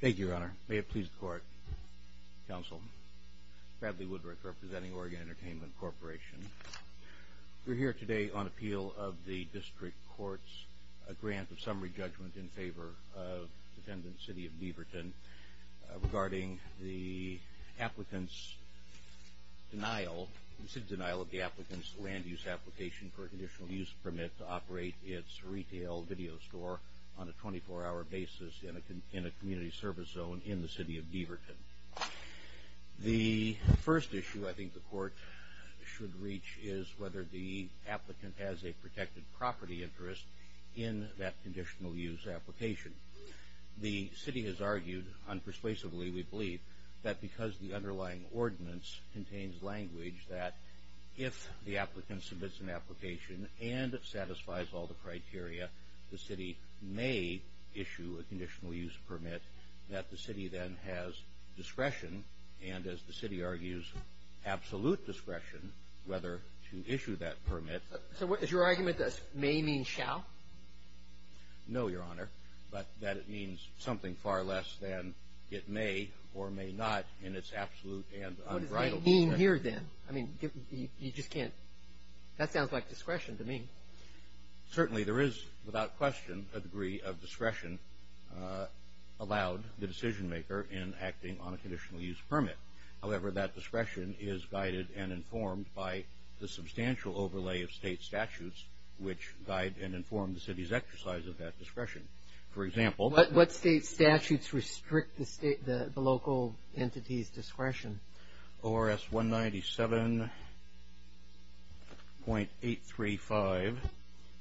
Thank you, Your Honor. May it please the Court, Counsel, Bradley Woodrick, representing Oregon Entertainment Corporation. We're here today on appeal of the District Court's grant of summary judgment in favor of the defendant, City of Beaverton, regarding the applicant's denial, the city's denial of the applicant's land use application for a conditional use permit to operate its retail video store on a 24-hour basis in a community service zone in the City of Beaverton. The first issue I think the Court should reach is whether the applicant has a protected property interest in that conditional use application. The city has argued, unpersuasively we believe, that because the underlying ordinance contains language that if the applicant submits an application and it satisfies all the criteria, the city may issue a conditional use permit, that the city then has discretion and, as the city argues, absolute discretion whether to issue that permit. So what is your argument that may mean shall? No, Your Honor, but that it means something far less than it may or may not in its absolute and unbridable sense. What does it mean here then? I mean, you just can't, that sounds like discretion to me. Certainly there is, without question, a degree of discretion allowed the decision maker in acting on a conditional use permit. However, that discretion is guided and informed by the substantial overlay of state statutes which guide and inform the city's exercise of that discretion. For example. What state statutes restrict the local entity's discretion? ORS 197.835,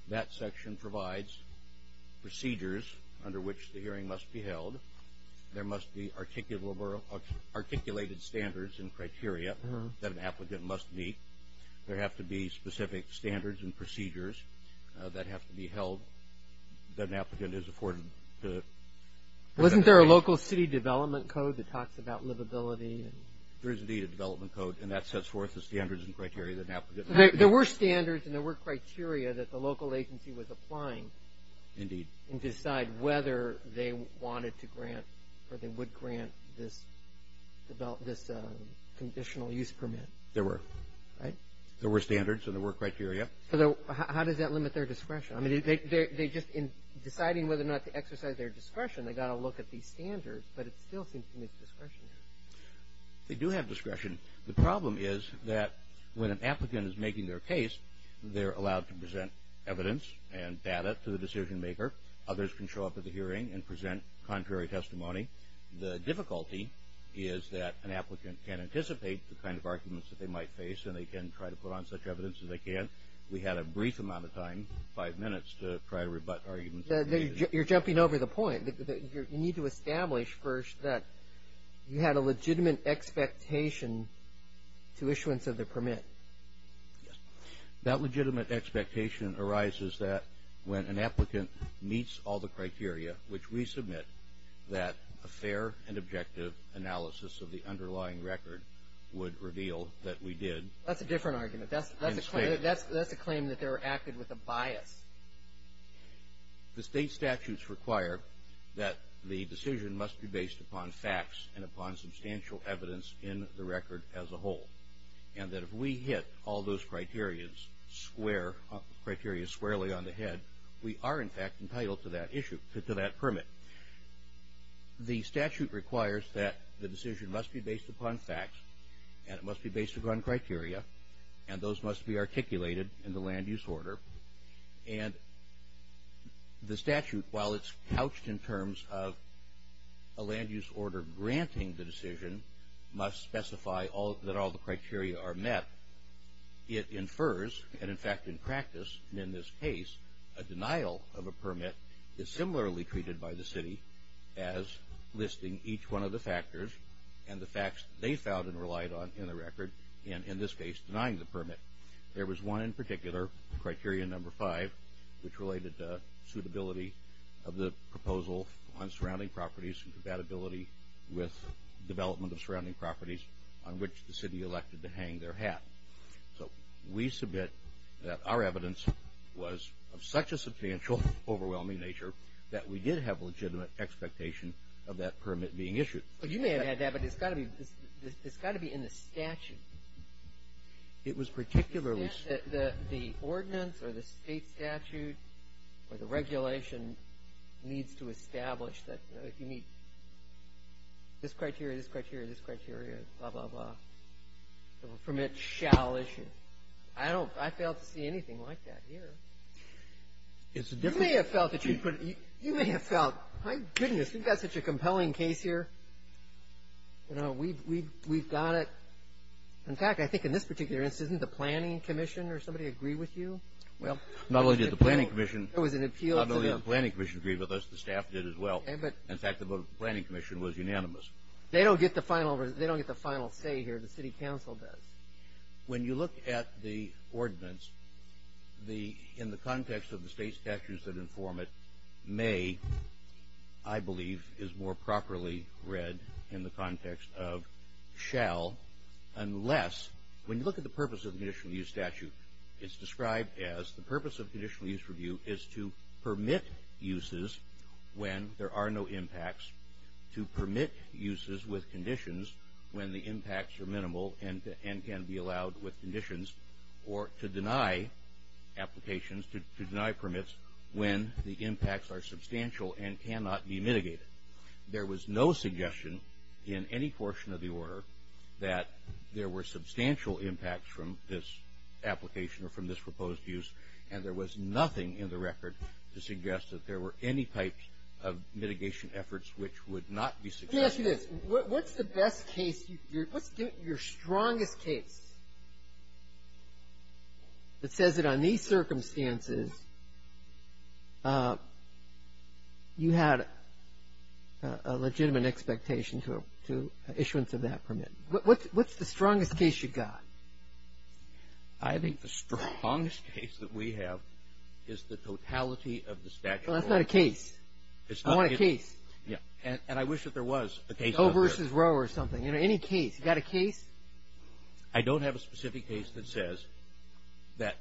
that section provides procedures under which the hearing must be held. There must be articulated standards and criteria that an applicant must meet. There have to be specific standards and procedures that have to be held that an applicant is afforded to. Wasn't there a local city development code that talks about livability? There is, indeed, a development code, and that sets forth the standards and criteria that an applicant must meet. There were standards and there were criteria that the local agency was applying. Indeed. To decide whether they wanted to grant or they would grant this conditional use permit. There were. Right? There were standards and there were criteria. So how does that limit their discretion? In deciding whether or not to exercise their discretion, they've got to look at these standards, but it still seems to miss discretion. They do have discretion. The problem is that when an applicant is making their case, they're allowed to present evidence and data to the decision maker. Others can show up at the hearing and present contrary testimony. The difficulty is that an applicant can anticipate the kind of arguments that they might face, and they can try to put on such evidence as they can. We had a brief amount of time, five minutes, to try to rebut arguments. You're jumping over the point. You need to establish first that you had a legitimate expectation to issuance of the permit. Yes. That legitimate expectation arises that when an applicant meets all the criteria, which we submit that a fair and objective analysis of the underlying record would reveal that we did. That's a different argument. That's a claim that they were acted with a bias. The state statutes require that the decision must be based upon facts and upon substantial evidence in the record as a whole, and that if we hit all those criteria squarely on the head, we are, in fact, entitled to that issue, to that permit. The statute requires that the decision must be based upon facts, and it must be based upon criteria, and those must be articulated in the land-use order. And the statute, while it's couched in terms of a land-use order granting the decision, must specify that all the criteria are met. It infers, and, in fact, in practice, in this case, a denial of a permit is similarly treated by the city as listing each one of the factors and the facts they found and relied on in the record, and, in this case, denying the permit. There was one in particular, criteria number five, which related to suitability of the proposal on surrounding properties and compatibility with development of surrounding properties on which the city elected to hang their hat. So we submit that our evidence was of such a substantial, overwhelming nature that we did have legitimate expectation of that permit being issued. Well, you may have had that, but it's got to be in the statute. It was particularly so. The ordinance or the state statute or the regulation needs to establish that, you know, if you meet this criteria, this criteria, this criteria, blah, blah, blah, the permit shall issue. I don't – I fail to see anything like that here. You may have felt that you put – you may have felt, my goodness, you've got such a compelling case here. You know, we've got it. In fact, I think in this particular instance, didn't the planning commission or somebody agree with you? Well, not only did the planning commission agree with us, the staff did as well. In fact, the planning commission was unanimous. They don't get the final say here. The city council does. When you look at the ordinance, in the context of the state statutes that inform it, may, I believe, is more properly read in the context of shall, unless when you look at the purpose of the conditional use statute, it's described as the purpose of conditional use review is to permit uses when there are no impacts, to permit uses with conditions when the impacts are minimal and can be allowed with conditions, or to deny applications, to deny permits when the impacts are substantial and cannot be mitigated. There was no suggestion in any portion of the order that there were substantial impacts from this application or from this proposed use, and there was nothing in the record to suggest that there were any types of mitigation efforts which would not be suggested. Let me ask you this. What's the best case? What's your strongest case that says that on these circumstances, you had a legitimate expectation to issuance of that permit? What's the strongest case you got? I think the strongest case that we have is the totality of the statute. Well, that's not a case. I want a case. And I wish that there was a case. Doe versus Roe or something. You know, any case. You got a case? I don't have a specific case that says that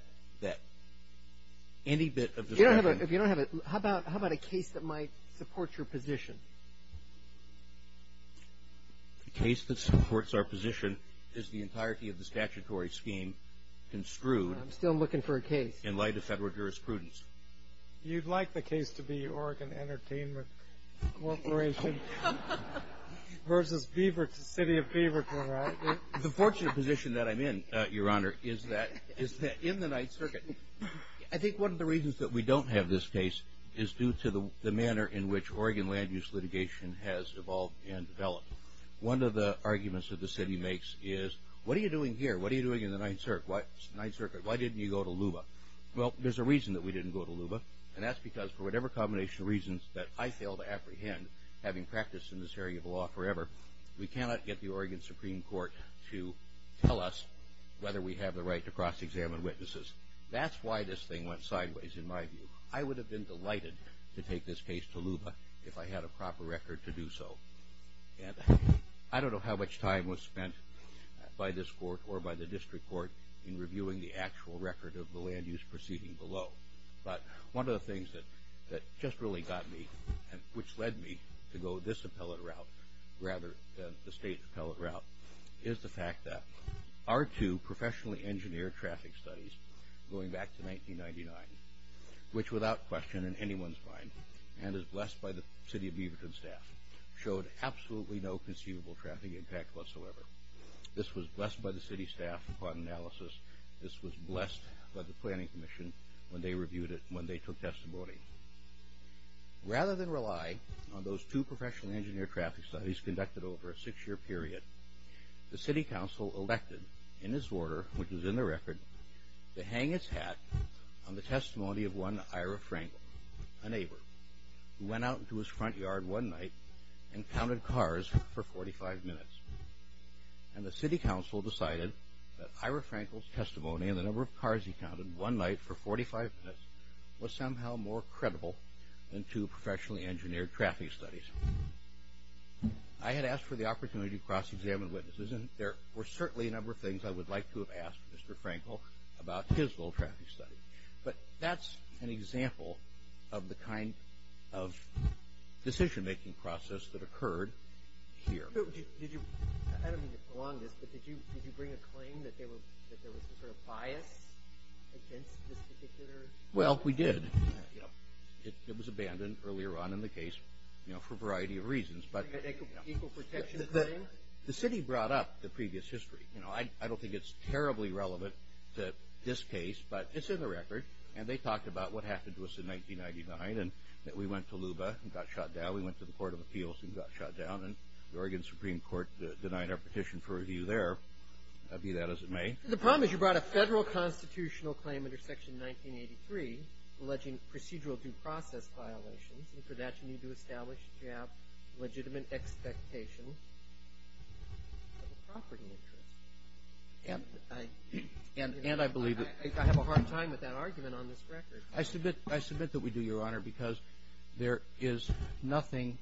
any bit of the statute. If you don't have it, how about a case that might support your position? The case that supports our position is the entirety of the statutory scheme construed. I'm still looking for a case. In light of federal jurisprudence. You'd like the case to be Oregon Entertainment Corporation versus City of Beaverton, right? The fortunate position that I'm in, Your Honor, is that in the Ninth Circuit, I think one of the reasons that we don't have this case is due to the manner in which Oregon land use litigation has evolved and developed. One of the arguments that the city makes is, what are you doing here? What are you doing in the Ninth Circuit? Why didn't you go to LUBA? Well, there's a reason that we didn't go to LUBA, and that's because for whatever combination of reasons that I fail to apprehend, having practiced in this area of law forever, we cannot get the Oregon Supreme Court to tell us whether we have the right to cross-examine witnesses. That's why this thing went sideways in my view. I would have been delighted to take this case to LUBA if I had a proper record to do so. I don't know how much time was spent by this court or by the district court in reviewing the actual record of the land use proceeding below, but one of the things that just really got me, which led me to go this appellate route rather than the state appellate route, is the fact that our two professionally engineered traffic studies going back to 1999, which without question in anyone's mind, and is blessed by the city of Beaverton staff, showed absolutely no conceivable traffic impact whatsoever. This was blessed by the city staff upon analysis. This was blessed by the planning commission when they reviewed it, when they took testimony. Rather than rely on those two professionally engineered traffic studies conducted over a six-year period, the city council elected, in this order, which is in the record, to hang its hat on the testimony of one Ira Frankel, a neighbor, who went out into his front yard one night and counted cars for 45 minutes. And the city council decided that Ira Frankel's testimony and the number of cars he counted one night for 45 minutes was somehow more credible than two professionally engineered traffic studies. I had asked for the opportunity to cross-examine witnesses, and there were certainly a number of things I would like to have asked Mr. Frankel about his little traffic study. But that's an example of the kind of decision-making process that occurred here. I don't mean to prolong this, but did you bring a claim that there was some sort of bias against this particular? Well, we did. It was abandoned earlier on in the case for a variety of reasons. An equal protection claim? The city brought up the previous history. You know, I don't think it's terribly relevant to this case, but it's in the record. And they talked about what happened to us in 1999 and that we went to LUBA and got shot down. We went to the Court of Appeals and got shot down, and the Oregon Supreme Court denied our petition for review there, be that as it may. The problem is you brought a federal constitutional claim under Section 1983 alleging procedural due process violations, and for that you need to establish if you have legitimate expectation of a property interest. And I believe that— I have a hard time with that argument on this record. I submit that we do, Your Honor, because there is nothing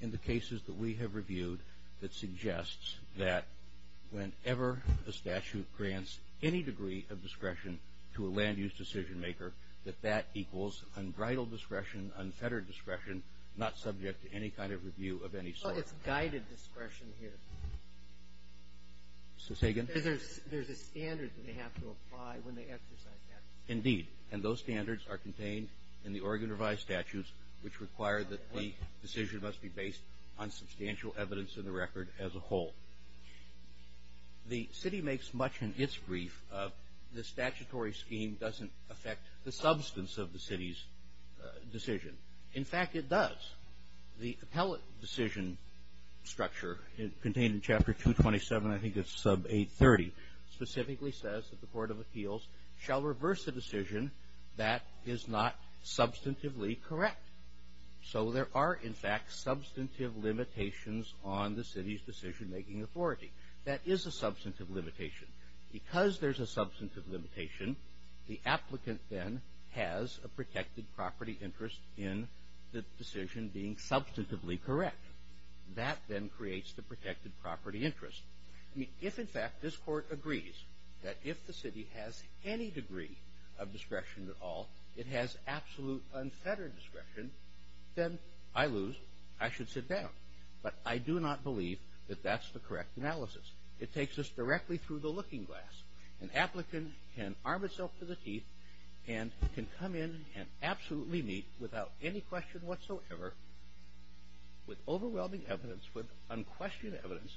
in the cases that we have reviewed that suggests that whenever a statute grants any degree of discretion to a land-use decision-maker, that that equals unbridled discretion, unfettered discretion, not subject to any kind of review of any sort. Well, it's guided discretion here. Say again? Because there's a standard that they have to apply when they exercise that. Indeed, and those standards are contained in the Oregon Revised Statutes, which require that the decision must be based on substantial evidence in the record as a whole. The city makes much in its brief of the statutory scheme doesn't affect the substance of the city's decision. In fact, it does. The appellate decision structure contained in Chapter 227, I think it's sub 830, specifically says that the Court of Appeals shall reverse a decision that is not substantively correct. So there are, in fact, substantive limitations on the city's decision-making authority. That is a substantive limitation. Because there's a substantive limitation, the applicant then has a protected property interest in the decision being substantively correct. That then creates the protected property interest. If, in fact, this Court agrees that if the city has any degree of discretion at all, it has absolute unfettered discretion, then I lose. I should sit down. But I do not believe that that's the correct analysis. It takes us directly through the looking glass. An applicant can arm itself to the teeth and can come in and absolutely meet without any question whatsoever with overwhelming evidence, with unquestioned evidence,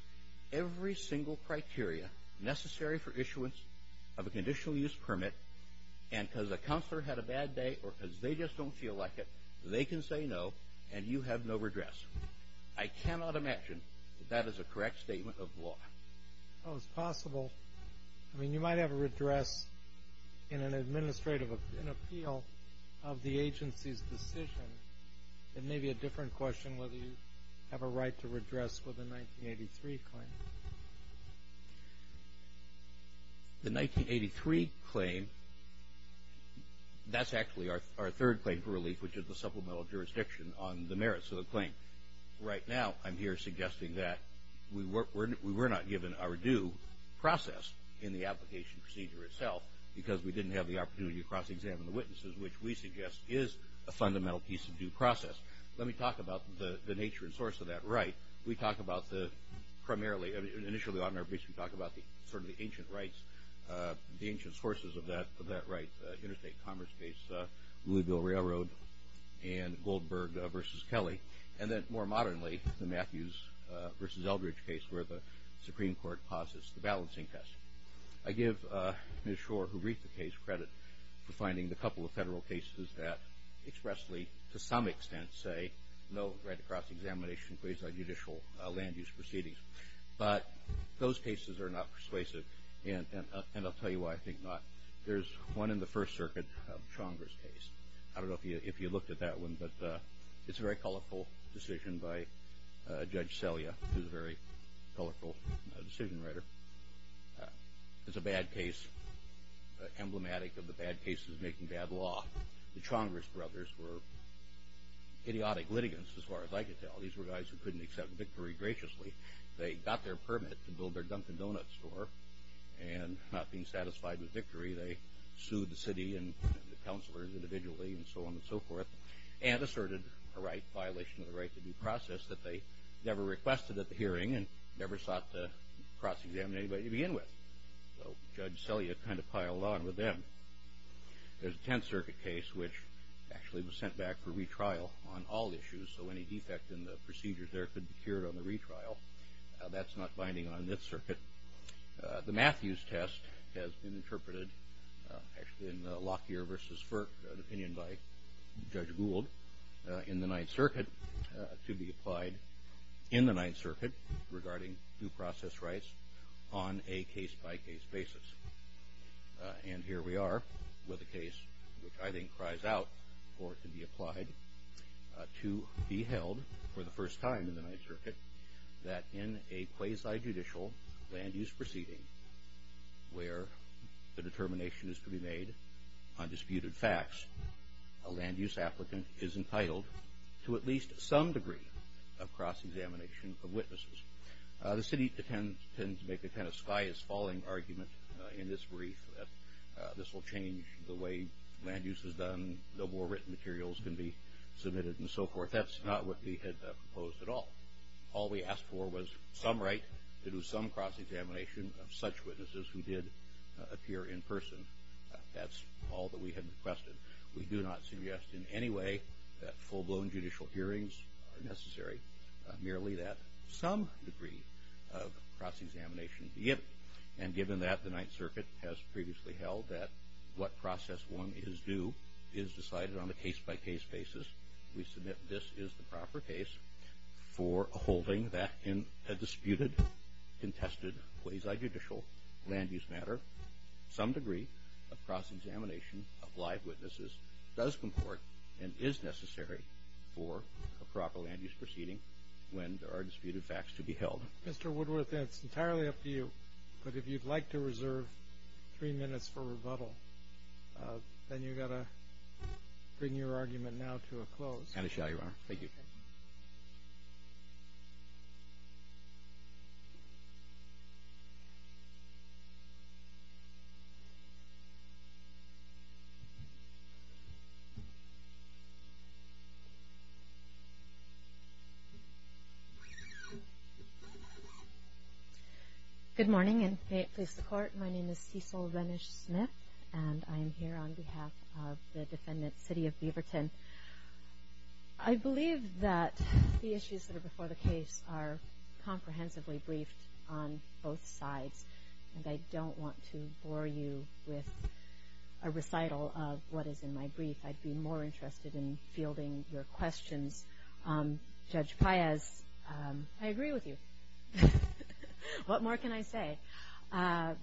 every single criteria necessary for issuance of a conditional use permit. And because the counselor had a bad day or because they just don't feel like it, they can say no and you have no redress. I cannot imagine that that is a correct statement of law. Well, it's possible. I mean, you might have a redress in an administrative appeal of the agency's decision. It may be a different question whether you have a right to redress with a 1983 claim. The 1983 claim, that's actually our third claim for relief, which is the supplemental jurisdiction on the merits of the claim. Right now, I'm here suggesting that we were not given our due process in the application procedure itself because we didn't have the opportunity to cross-examine the witnesses, which we suggest is a fundamental piece of due process. Let me talk about the nature and source of that right. We talk about the primarily, initially on our briefs, we talk about sort of the ancient rights, the ancient sources of that right, Interstate Commerce Case, Louisville Railroad, and Goldberg v. Kelly, and then more modernly, the Matthews v. Eldridge case where the Supreme Court passes the balancing test. I give Ms. Schor, who briefed the case, credit for finding a couple of federal cases that expressly, to some extent, say no right to cross-examination in place of judicial land-use proceedings, but those cases are not persuasive, and I'll tell you why I think not. There's one in the First Circuit, Chonger's case. I don't know if you looked at that one, but it's a very colorful decision by Judge Selya, who's a very colorful decision writer. It's a bad case, emblematic of the bad cases making bad law. The Chonger's brothers were idiotic litigants, as far as I could tell. These were guys who couldn't accept victory graciously. They got their permit to build their Dunkin' Donuts store, and not being satisfied with victory, they sued the city and the councilors individually, and so on and so forth, and asserted a violation of the right to due process that they never requested at the hearing and never sought to cross-examine anybody to begin with. So Judge Selya kind of piled on with them. There's a Tenth Circuit case, which actually was sent back for retrial on all issues, so any defect in the procedures there could be cured on the retrial. That's not binding on Ninth Circuit. The Matthews test has been interpreted, actually in Lockyer v. Firk, an opinion by Judge Gould, in the Ninth Circuit to be applied in the Ninth Circuit regarding due process rights on a case-by-case basis. And here we are with a case which I think cries out for it to be applied, to be held for the first time in the Ninth Circuit that in a quasi-judicial land-use proceeding, where the determination is to be made on disputed facts, a land-use applicant is entitled to at least some degree of cross-examination of witnesses. The city tends to make the kind of sky-is-falling argument in this brief that this will change the way land use is done, no more written materials can be submitted, and so forth. That's not what we had proposed at all. All we asked for was some right to do some cross-examination of such witnesses who did appear in person. That's all that we had requested. We do not suggest in any way that full-blown judicial hearings are necessary. Merely that some degree of cross-examination be given. And given that the Ninth Circuit has previously held that what process one is due is decided on a case-by-case basis, we submit this is the proper case for holding that in a disputed, contested quasi-judicial land-use matter. Some degree of cross-examination of live witnesses does comport and is necessary for a proper land-use proceeding when there are disputed facts to be held. Mr. Woodworth, it's entirely up to you. But if you'd like to reserve three minutes for rebuttal, then you've got to bring your argument now to a close. And I shall, Your Honor. Thank you. Good morning, and may it please the Court. My name is Cecil Rennish-Smith, and I am here on behalf of the defendant, City of Beaverton. I believe that the issues that are before the case are comprehensively briefed on both sides, and I don't want to bore you with a recital of what is in my brief. I'd be more interested in fielding your questions. Judge Paez, I agree with you. What more can I say? Well,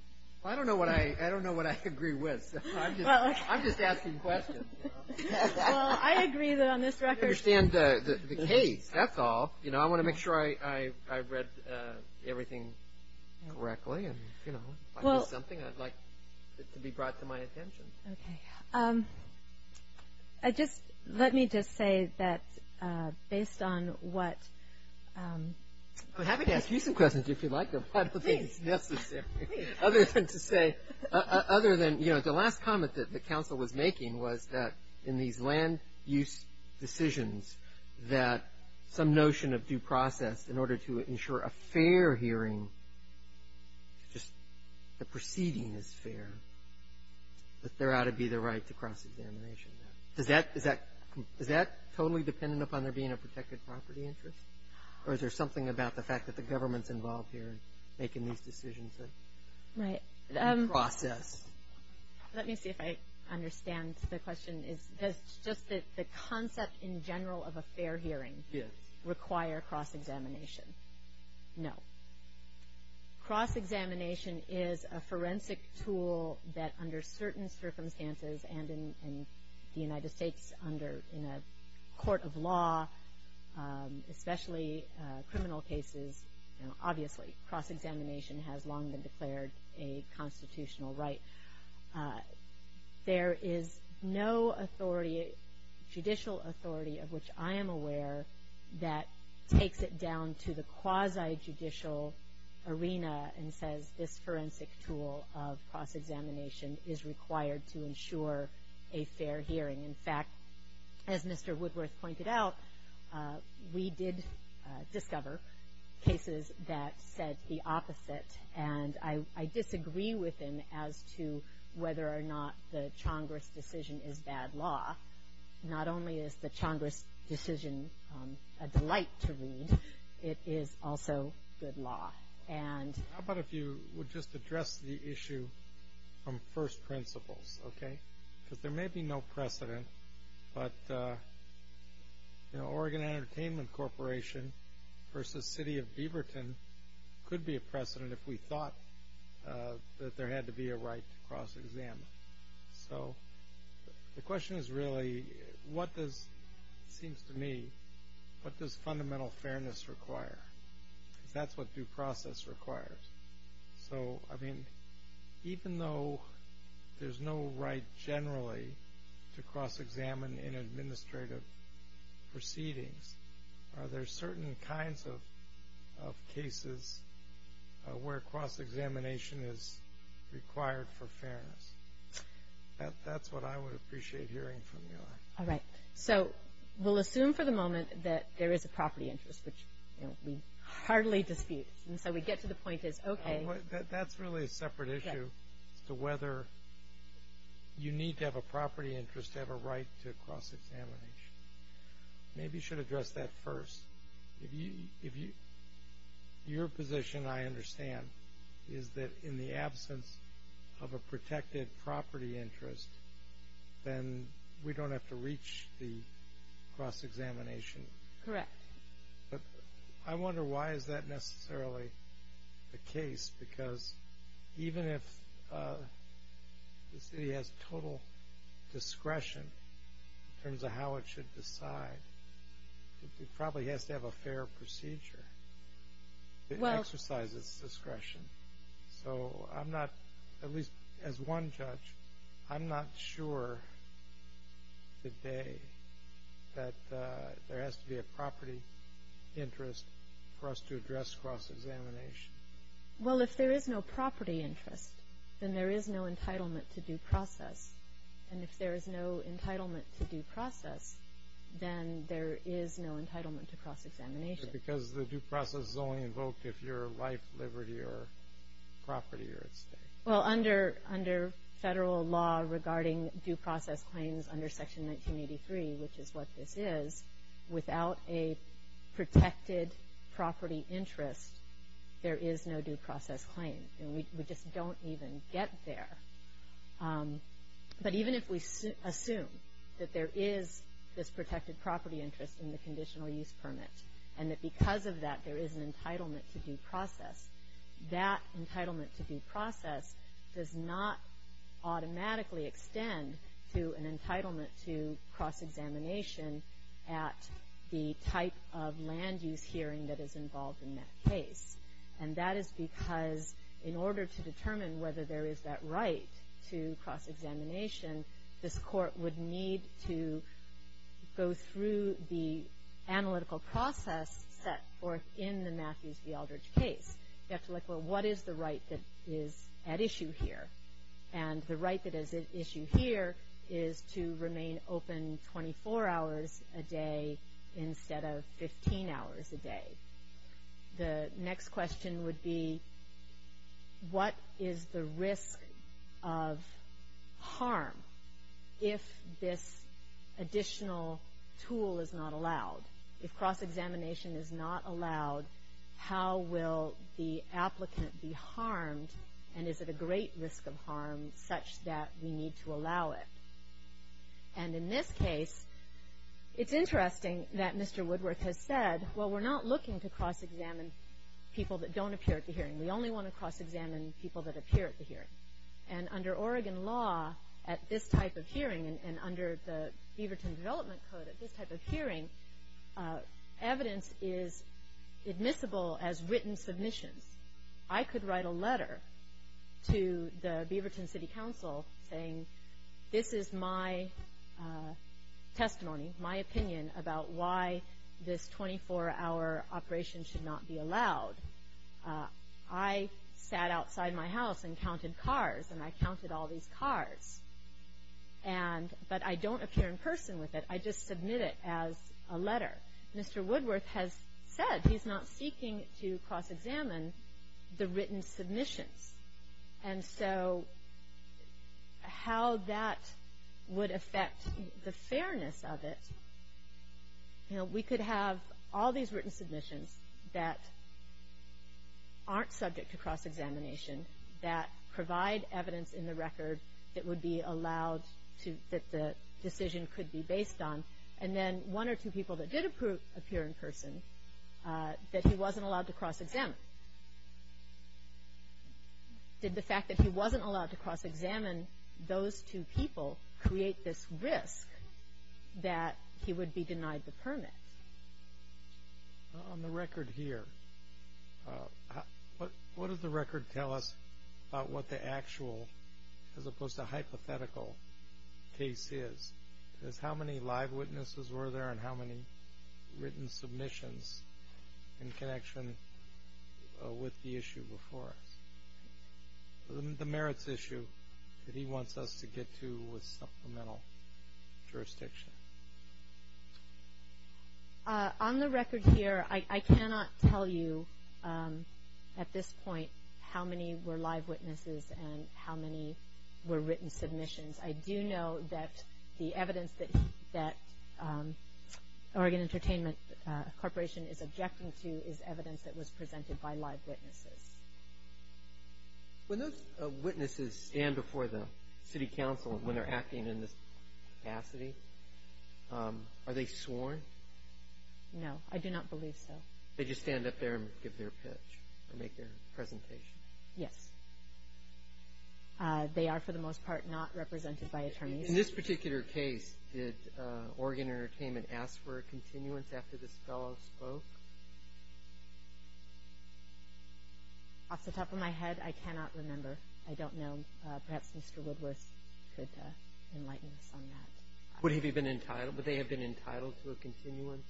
I don't know what I agree with, so I'm just asking questions. Well, I agree that on this record. I understand the case, that's all. You know, I want to make sure I read everything correctly, and, you know, if I missed something, I'd like it to be brought to my attention. Okay. Just let me just say that based on what – I'm happy to ask you some questions if you'd like them. Please. I don't think it's necessary. Please. Other than to say – other than, you know, the last comment that the counsel was making was that in these land use decisions that some notion of due process in order to ensure a fair hearing, just the proceeding is fair, that there ought to be the right to cross-examination. Is that totally dependent upon there being a protected property interest, or is there something about the fact that the government's involved here in making these decisions? Right. Due process. Let me see if I understand the question. Does just the concept in general of a fair hearing require cross-examination? No. Cross-examination is a forensic tool that under certain circumstances, and in the United States under – in a court of law, especially criminal cases, obviously cross-examination has long been declared a constitutional right. There is no authority – judicial authority of which I am aware that takes it down to the quasi-judicial arena and says this forensic tool of cross-examination is required to ensure a fair hearing. In fact, as Mr. Woodworth pointed out, we did discover cases that said the opposite, and I disagree with him as to whether or not the Chongress decision is bad law. Not only is the Chongress decision a delight to read, it is also good law. How about if you would just address the issue from first principles, okay? Because there may be no precedent, but Oregon Entertainment Corporation versus City of Beaverton could be a precedent if we thought that there had to be a right to cross-examine. So the question is really what does, it seems to me, what does fundamental fairness require? Because that's what due process requires. So, I mean, even though there's no right generally to cross-examine in administrative proceedings, are there certain kinds of cases where cross-examination is required for fairness? That's what I would appreciate hearing from you. All right. So we'll assume for the moment that there is a property interest, which we hardly dispute. And so we get to the point that it's okay. That's really a separate issue as to whether you need to have a property interest to have a right to cross-examination. Maybe you should address that first. Your position, I understand, is that in the absence of a protected property interest, then we don't have to reach the cross-examination. Correct. I wonder why is that necessarily the case? Because even if the city has total discretion in terms of how it should decide, it probably has to have a fair procedure to exercise its discretion. So I'm not, at least as one judge, I'm not sure today that there has to be a property interest for us to address cross-examination. Well, if there is no property interest, then there is no entitlement to due process. And if there is no entitlement to due process, then there is no entitlement to cross-examination. Because the due process is only invoked if your life, liberty, or property are at stake. Well, under federal law regarding due process claims under Section 1983, which is what this is, without a protected property interest, there is no due process claim. We just don't even get there. But even if we assume that there is this protected property interest in the conditional use permit and that because of that there is an entitlement to due process, that entitlement to due process does not automatically extend to an entitlement to cross-examination at the type of land use hearing that is involved in that case. And that is because in order to determine whether there is that right to cross-examination, this court would need to go through the analytical process set forth in the Matthews v. Aldridge case. You have to look, well, what is the right that is at issue here? And the right that is at issue here is to remain open 24 hours a day instead of 15 hours a day. The next question would be, what is the risk of harm if this additional tool is not allowed? If cross-examination is not allowed, how will the applicant be harmed, and is it a great risk of harm such that we need to allow it? And in this case, it's interesting that Mr. Woodworth has said, well, we're not looking to cross-examine people that don't appear at the hearing. We only want to cross-examine people that appear at the hearing. And under Oregon law at this type of hearing and under the Beaverton Development Code at this type of hearing, evidence is admissible as written submissions. I could write a letter to the Beaverton City Council saying, this is my testimony, my opinion about why this 24-hour operation should not be allowed. I sat outside my house and counted cars, and I counted all these cars. But I don't appear in person with it. I just submit it as a letter. Mr. Woodworth has said he's not seeking to cross-examine the written submissions. And so how that would affect the fairness of it, we could have all these written submissions that aren't subject to cross-examination, that provide evidence in the record that would be allowed, that the decision could be based on. And then one or two people that did appear in person that he wasn't allowed to cross-examine. Did the fact that he wasn't allowed to cross-examine those two people create this risk that he would be denied the permit? On the record here, what does the record tell us about what the actual as opposed to hypothetical case is? How many live witnesses were there and how many written submissions in connection with the issue before us? The merits issue that he wants us to get to with supplemental jurisdiction. On the record here, I cannot tell you at this point how many were live witnesses and how many were written submissions. I do know that the evidence that Oregon Entertainment Corporation is objecting to is evidence that was presented by live witnesses. When those witnesses stand before the city council when they're acting in this capacity, are they sworn? No, I do not believe so. They just stand up there and give their pitch or make their presentation? Yes. They are, for the most part, not represented by attorneys. In this particular case, did Oregon Entertainment ask for a continuance after this fellow spoke? Off the top of my head, I cannot remember. I don't know. Perhaps Mr. Woodworth could enlighten us on that. Would they have been entitled to a continuance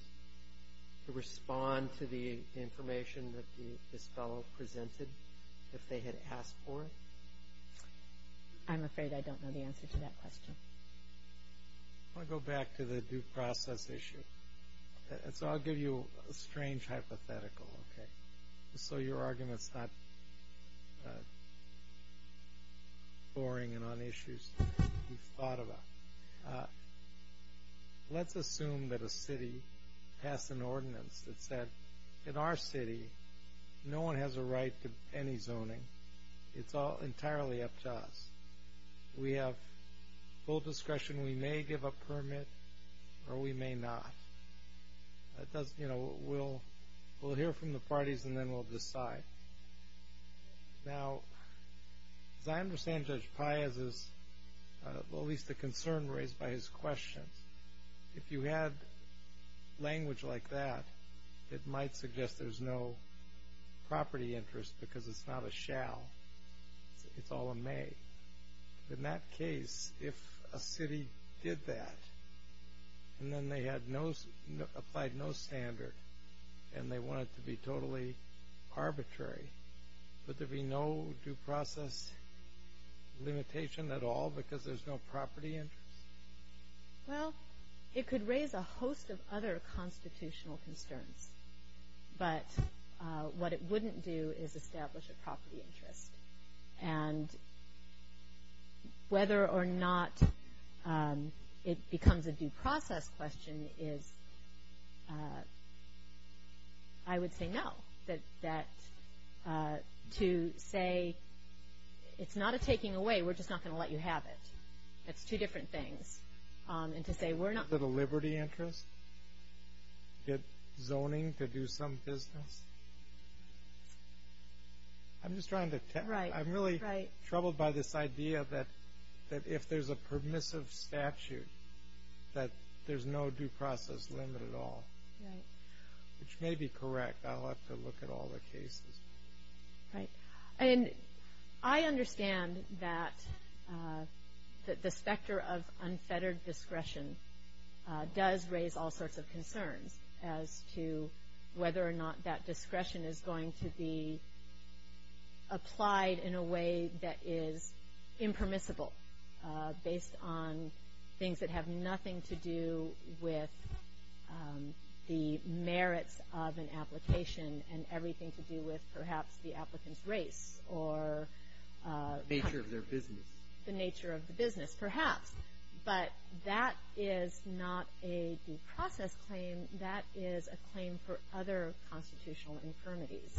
to respond to the information that this fellow presented if they had asked for it? I'm afraid I don't know the answer to that question. I'll go back to the due process issue. I'll give you a strange hypothetical, just so your argument's not boring and on issues you've thought about. Let's assume that a city passed an ordinance that said, in our city, no one has a right to any zoning. It's entirely up to us. We have full discretion. We may give a permit or we may not. We'll hear from the parties and then we'll decide. Now, as I understand Judge Piazza's, at least the concern raised by his questions, if you had language like that, it might suggest there's no property interest because it's not a shall. It's all a may. In that case, if a city did that and then they applied no standard and they want it to be totally arbitrary, would there be no due process limitation at all because there's no property interest? Well, it could raise a host of other constitutional concerns. But what it wouldn't do is establish a property interest. And whether or not it becomes a due process question is, I would say no. That to say it's not a taking away, we're just not going to let you have it. That's two different things. And to say we're not... Is it a liberty interest? Get zoning to do some business? I'm just trying to... Right, right. I'm really troubled by this idea that if there's a permissive statute that there's no due process limit at all. Right. Which may be correct. I'll have to look at all the cases. Right. I understand that the specter of unfettered discretion does raise all sorts of concerns as to whether or not that discretion is going to be applied in a way that is impermissible based on things that have nothing to do with the merits of an application and everything to do with perhaps the applicant's race or... The nature of their business. The nature of the business, perhaps. But that is not a due process claim. That is a claim for other constitutional infirmities.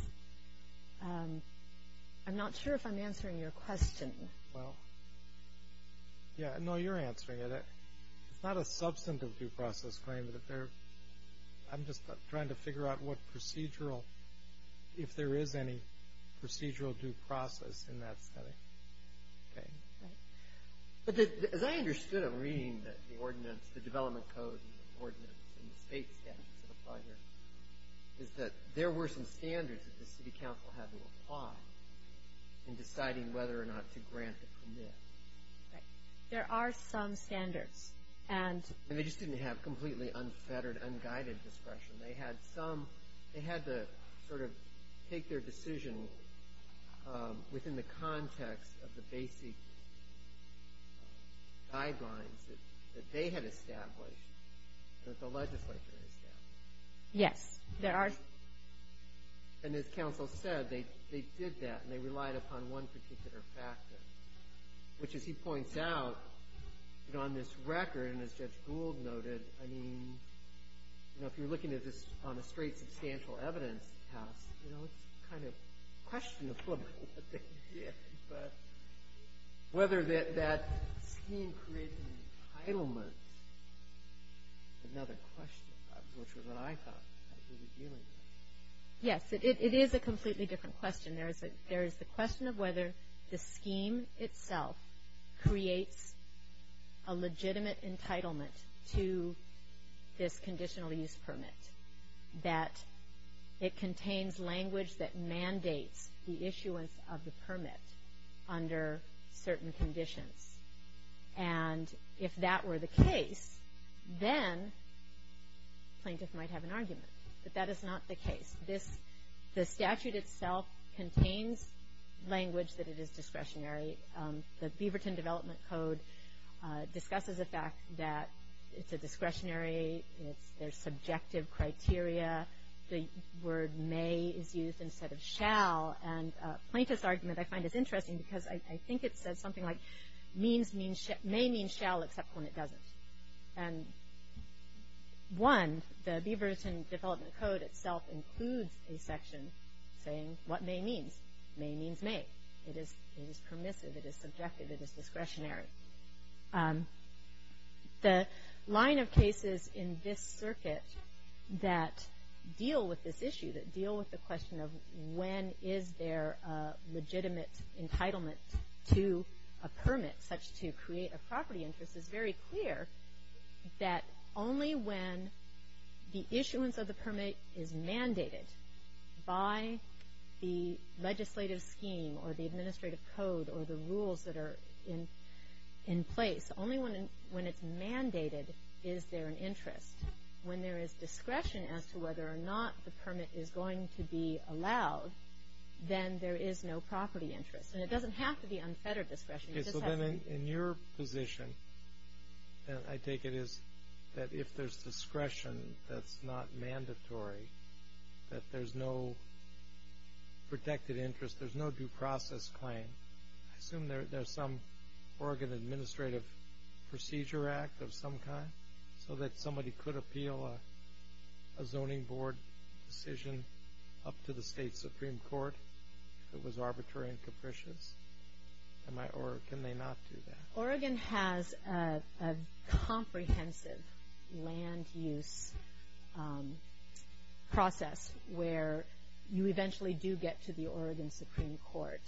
I'm not sure if I'm answering your question. Well, yeah. No, you're answering it. It's not a substantive due process claim. I'm just trying to figure out what procedural... if there is any procedural due process in that study. Okay. Right. But as I understood it reading the ordinance, the development code ordinance and the state standards that apply here, is that there were some standards that the city council had to apply in deciding whether or not to grant the permit. Right. There are some standards. They just didn't have completely unfettered, unguided discretion. They had to sort of take their decision within the context of the basic guidelines that they had established and that the legislature established. Yes, there are. And as counsel said, they did that and they relied upon one particular factor, which, as he points out, on this record, and as Judge Gould noted, I mean, if you're looking at this on a straight substantial evidence test, it's kind of questionable what they did. But whether that scheme created an entitlement is another question. I'm not sure what I thought about who was dealing with it. Yes, it is a completely different question. There is the question of whether the scheme itself creates a legitimate entitlement to this conditional use permit, that it contains language that mandates the issuance of the permit under certain conditions. And if that were the case, then plaintiff might have an argument that that is not the case. The statute itself contains language that it is discretionary. The Beaverton Development Code discusses the fact that it's a discretionary, there's subjective criteria, the word may is used instead of shall, and a plaintiff's argument I find is interesting because I think it says something like may mean shall except when it doesn't. And one, the Beaverton Development Code itself includes a section saying what may means. May means may. It is permissive, it is subjective, it is discretionary. The line of cases in this circuit that deal with this issue, that deal with the question of when is there a legitimate entitlement to a permit such to create a property interest is very clear that only when the issuance of the permit is mandated by the legislative scheme or the administrative code or the rules that are in place, only when it's mandated is there an interest. When there is discretion as to whether or not the permit is going to be allowed, then there is no property interest. And it doesn't have to be unfettered discretion. Okay, so then in your position, I take it is that if there's discretion that's not mandatory, that there's no protected interest, there's no due process claim, I assume there's some Oregon Administrative Procedure Act of some kind so that somebody could appeal a zoning board decision up to the state supreme court if it was arbitrary and capricious? Or can they not do that? Oregon has a comprehensive land use process where you eventually do get to the Oregon Supreme Court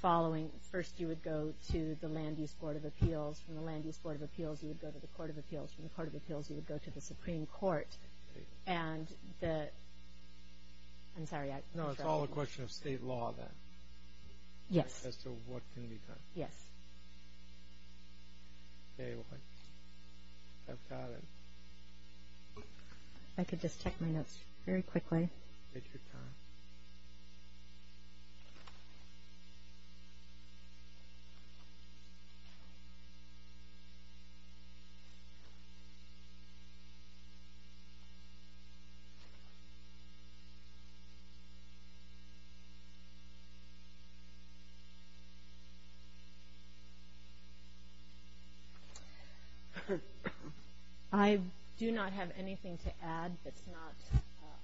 following, first you would go to the Land Use Board of Appeals, from the Land Use Board of Appeals you would go to the Court of Appeals, from the Court of Appeals you would go to the Supreme Court, and the, I'm sorry. No, it's all a question of state law then. Yes. As to what can be done. Yes. I could just check my notes very quickly. Take your time. Thank you. I do not have anything to add that's not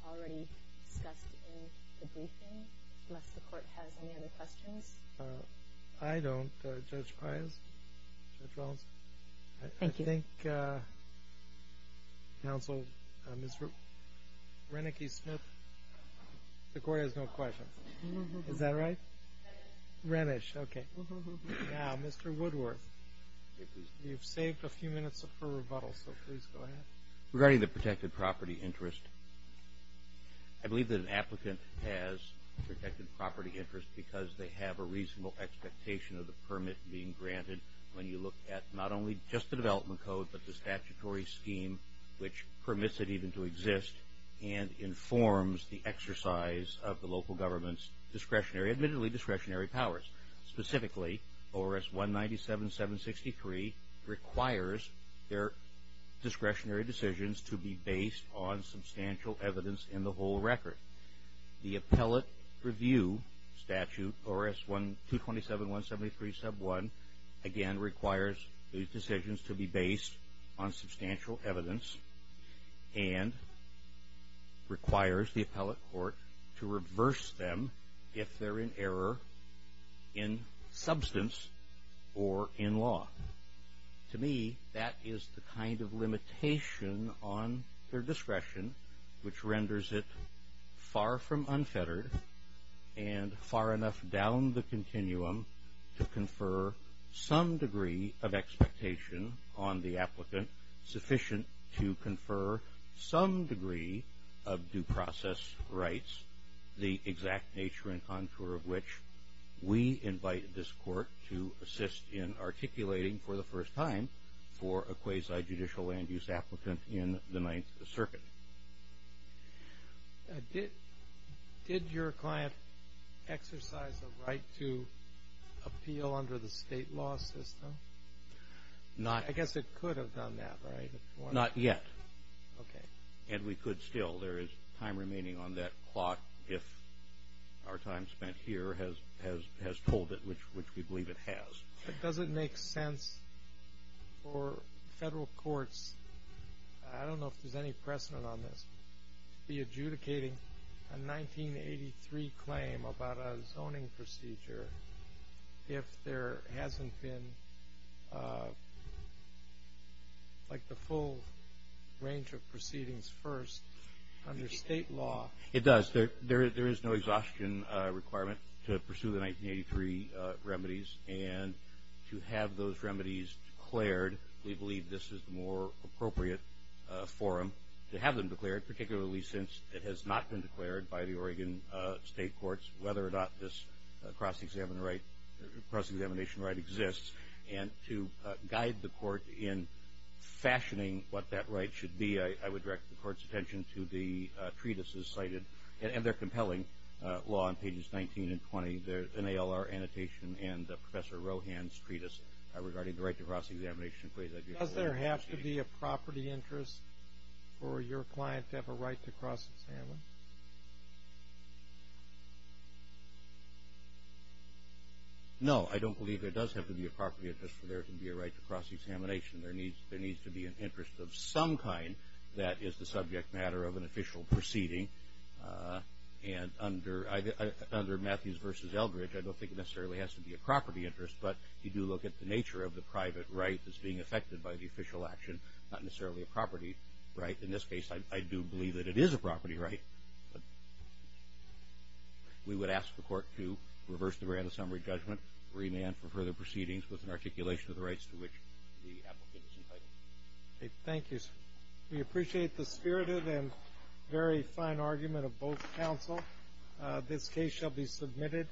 already discussed in the briefing, unless the court has any other questions. I don't. Judge Pires? Judge Rollins? Thank you. I think Counsel, Mr. Reneke-Smith, the court has no questions. Is that right? Renish. Renish, okay. Now, Mr. Woodworth, you've saved a few minutes for rebuttal, so please go ahead. Regarding the protected property interest, I believe that an applicant has protected property interest because they have a reasonable expectation of the permit being granted when you look at not only just the development code but the statutory scheme which permits it even to exist and informs the exercise of the local government's discretionary, admittedly discretionary powers. Specifically, ORS 197-763 requires their discretionary decisions to be based on substantial evidence in the whole record. The appellate review statute, ORS 227-173 sub 1, again requires these decisions to be based on substantial evidence and requires the appellate court to reverse them if they're in error in substance or in law. To me, that is the kind of limitation on their discretion which renders it far from unfettered and far enough down the continuum to confer some degree of expectation on the applicant sufficient to confer some degree of due process rights, the exact nature and contour of which we invite this court to assist in articulating for the first time for a quasi-judicial land use applicant in the Ninth Circuit. Did your client exercise a right to appeal under the state law system? I guess it could have done that, right? Not yet. And we could still. There is time remaining on that clock if our time spent here has told it, which we believe it has. Does it make sense for federal courts, I don't know if there's any precedent on this, to be adjudicating a 1983 claim about a zoning procedure if there hasn't been like the full range of proceedings first under state law? It does. There is no exhaustion requirement to pursue the 1983 remedies and to have those remedies declared, we believe this is the more appropriate forum to have them declared, particularly since it has not been declared by the Oregon state courts whether or not this cross-examination right exists. And to guide the court in fashioning what that right should be, I would direct the court's attention to the treatises cited and their compelling law on pages 19 and 20, the NALR annotation and Professor Rohan's treatise regarding the right to cross-examination. Does there have to be a property interest for your client to have a right to cross-examine? No, I don't believe there does have to be a property interest for there to be a right to cross-examination. There needs to be an interest of some kind that is the subject matter of an official proceeding. And under Matthews v. Eldridge, I don't think it necessarily has to be a property interest, but you do look at the nature of the private right that's being affected by the official action, not necessarily a property right. In this case, I do believe that it is a property right. We would ask the court to reverse the grant of summary judgment, remand for further proceedings with an articulation of the rights to which the applicant is entitled. Thank you. We appreciate the spirited and very fine argument of both counsel. This case shall be submitted,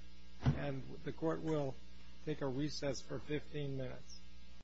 and the court will take a recess for 15 minutes.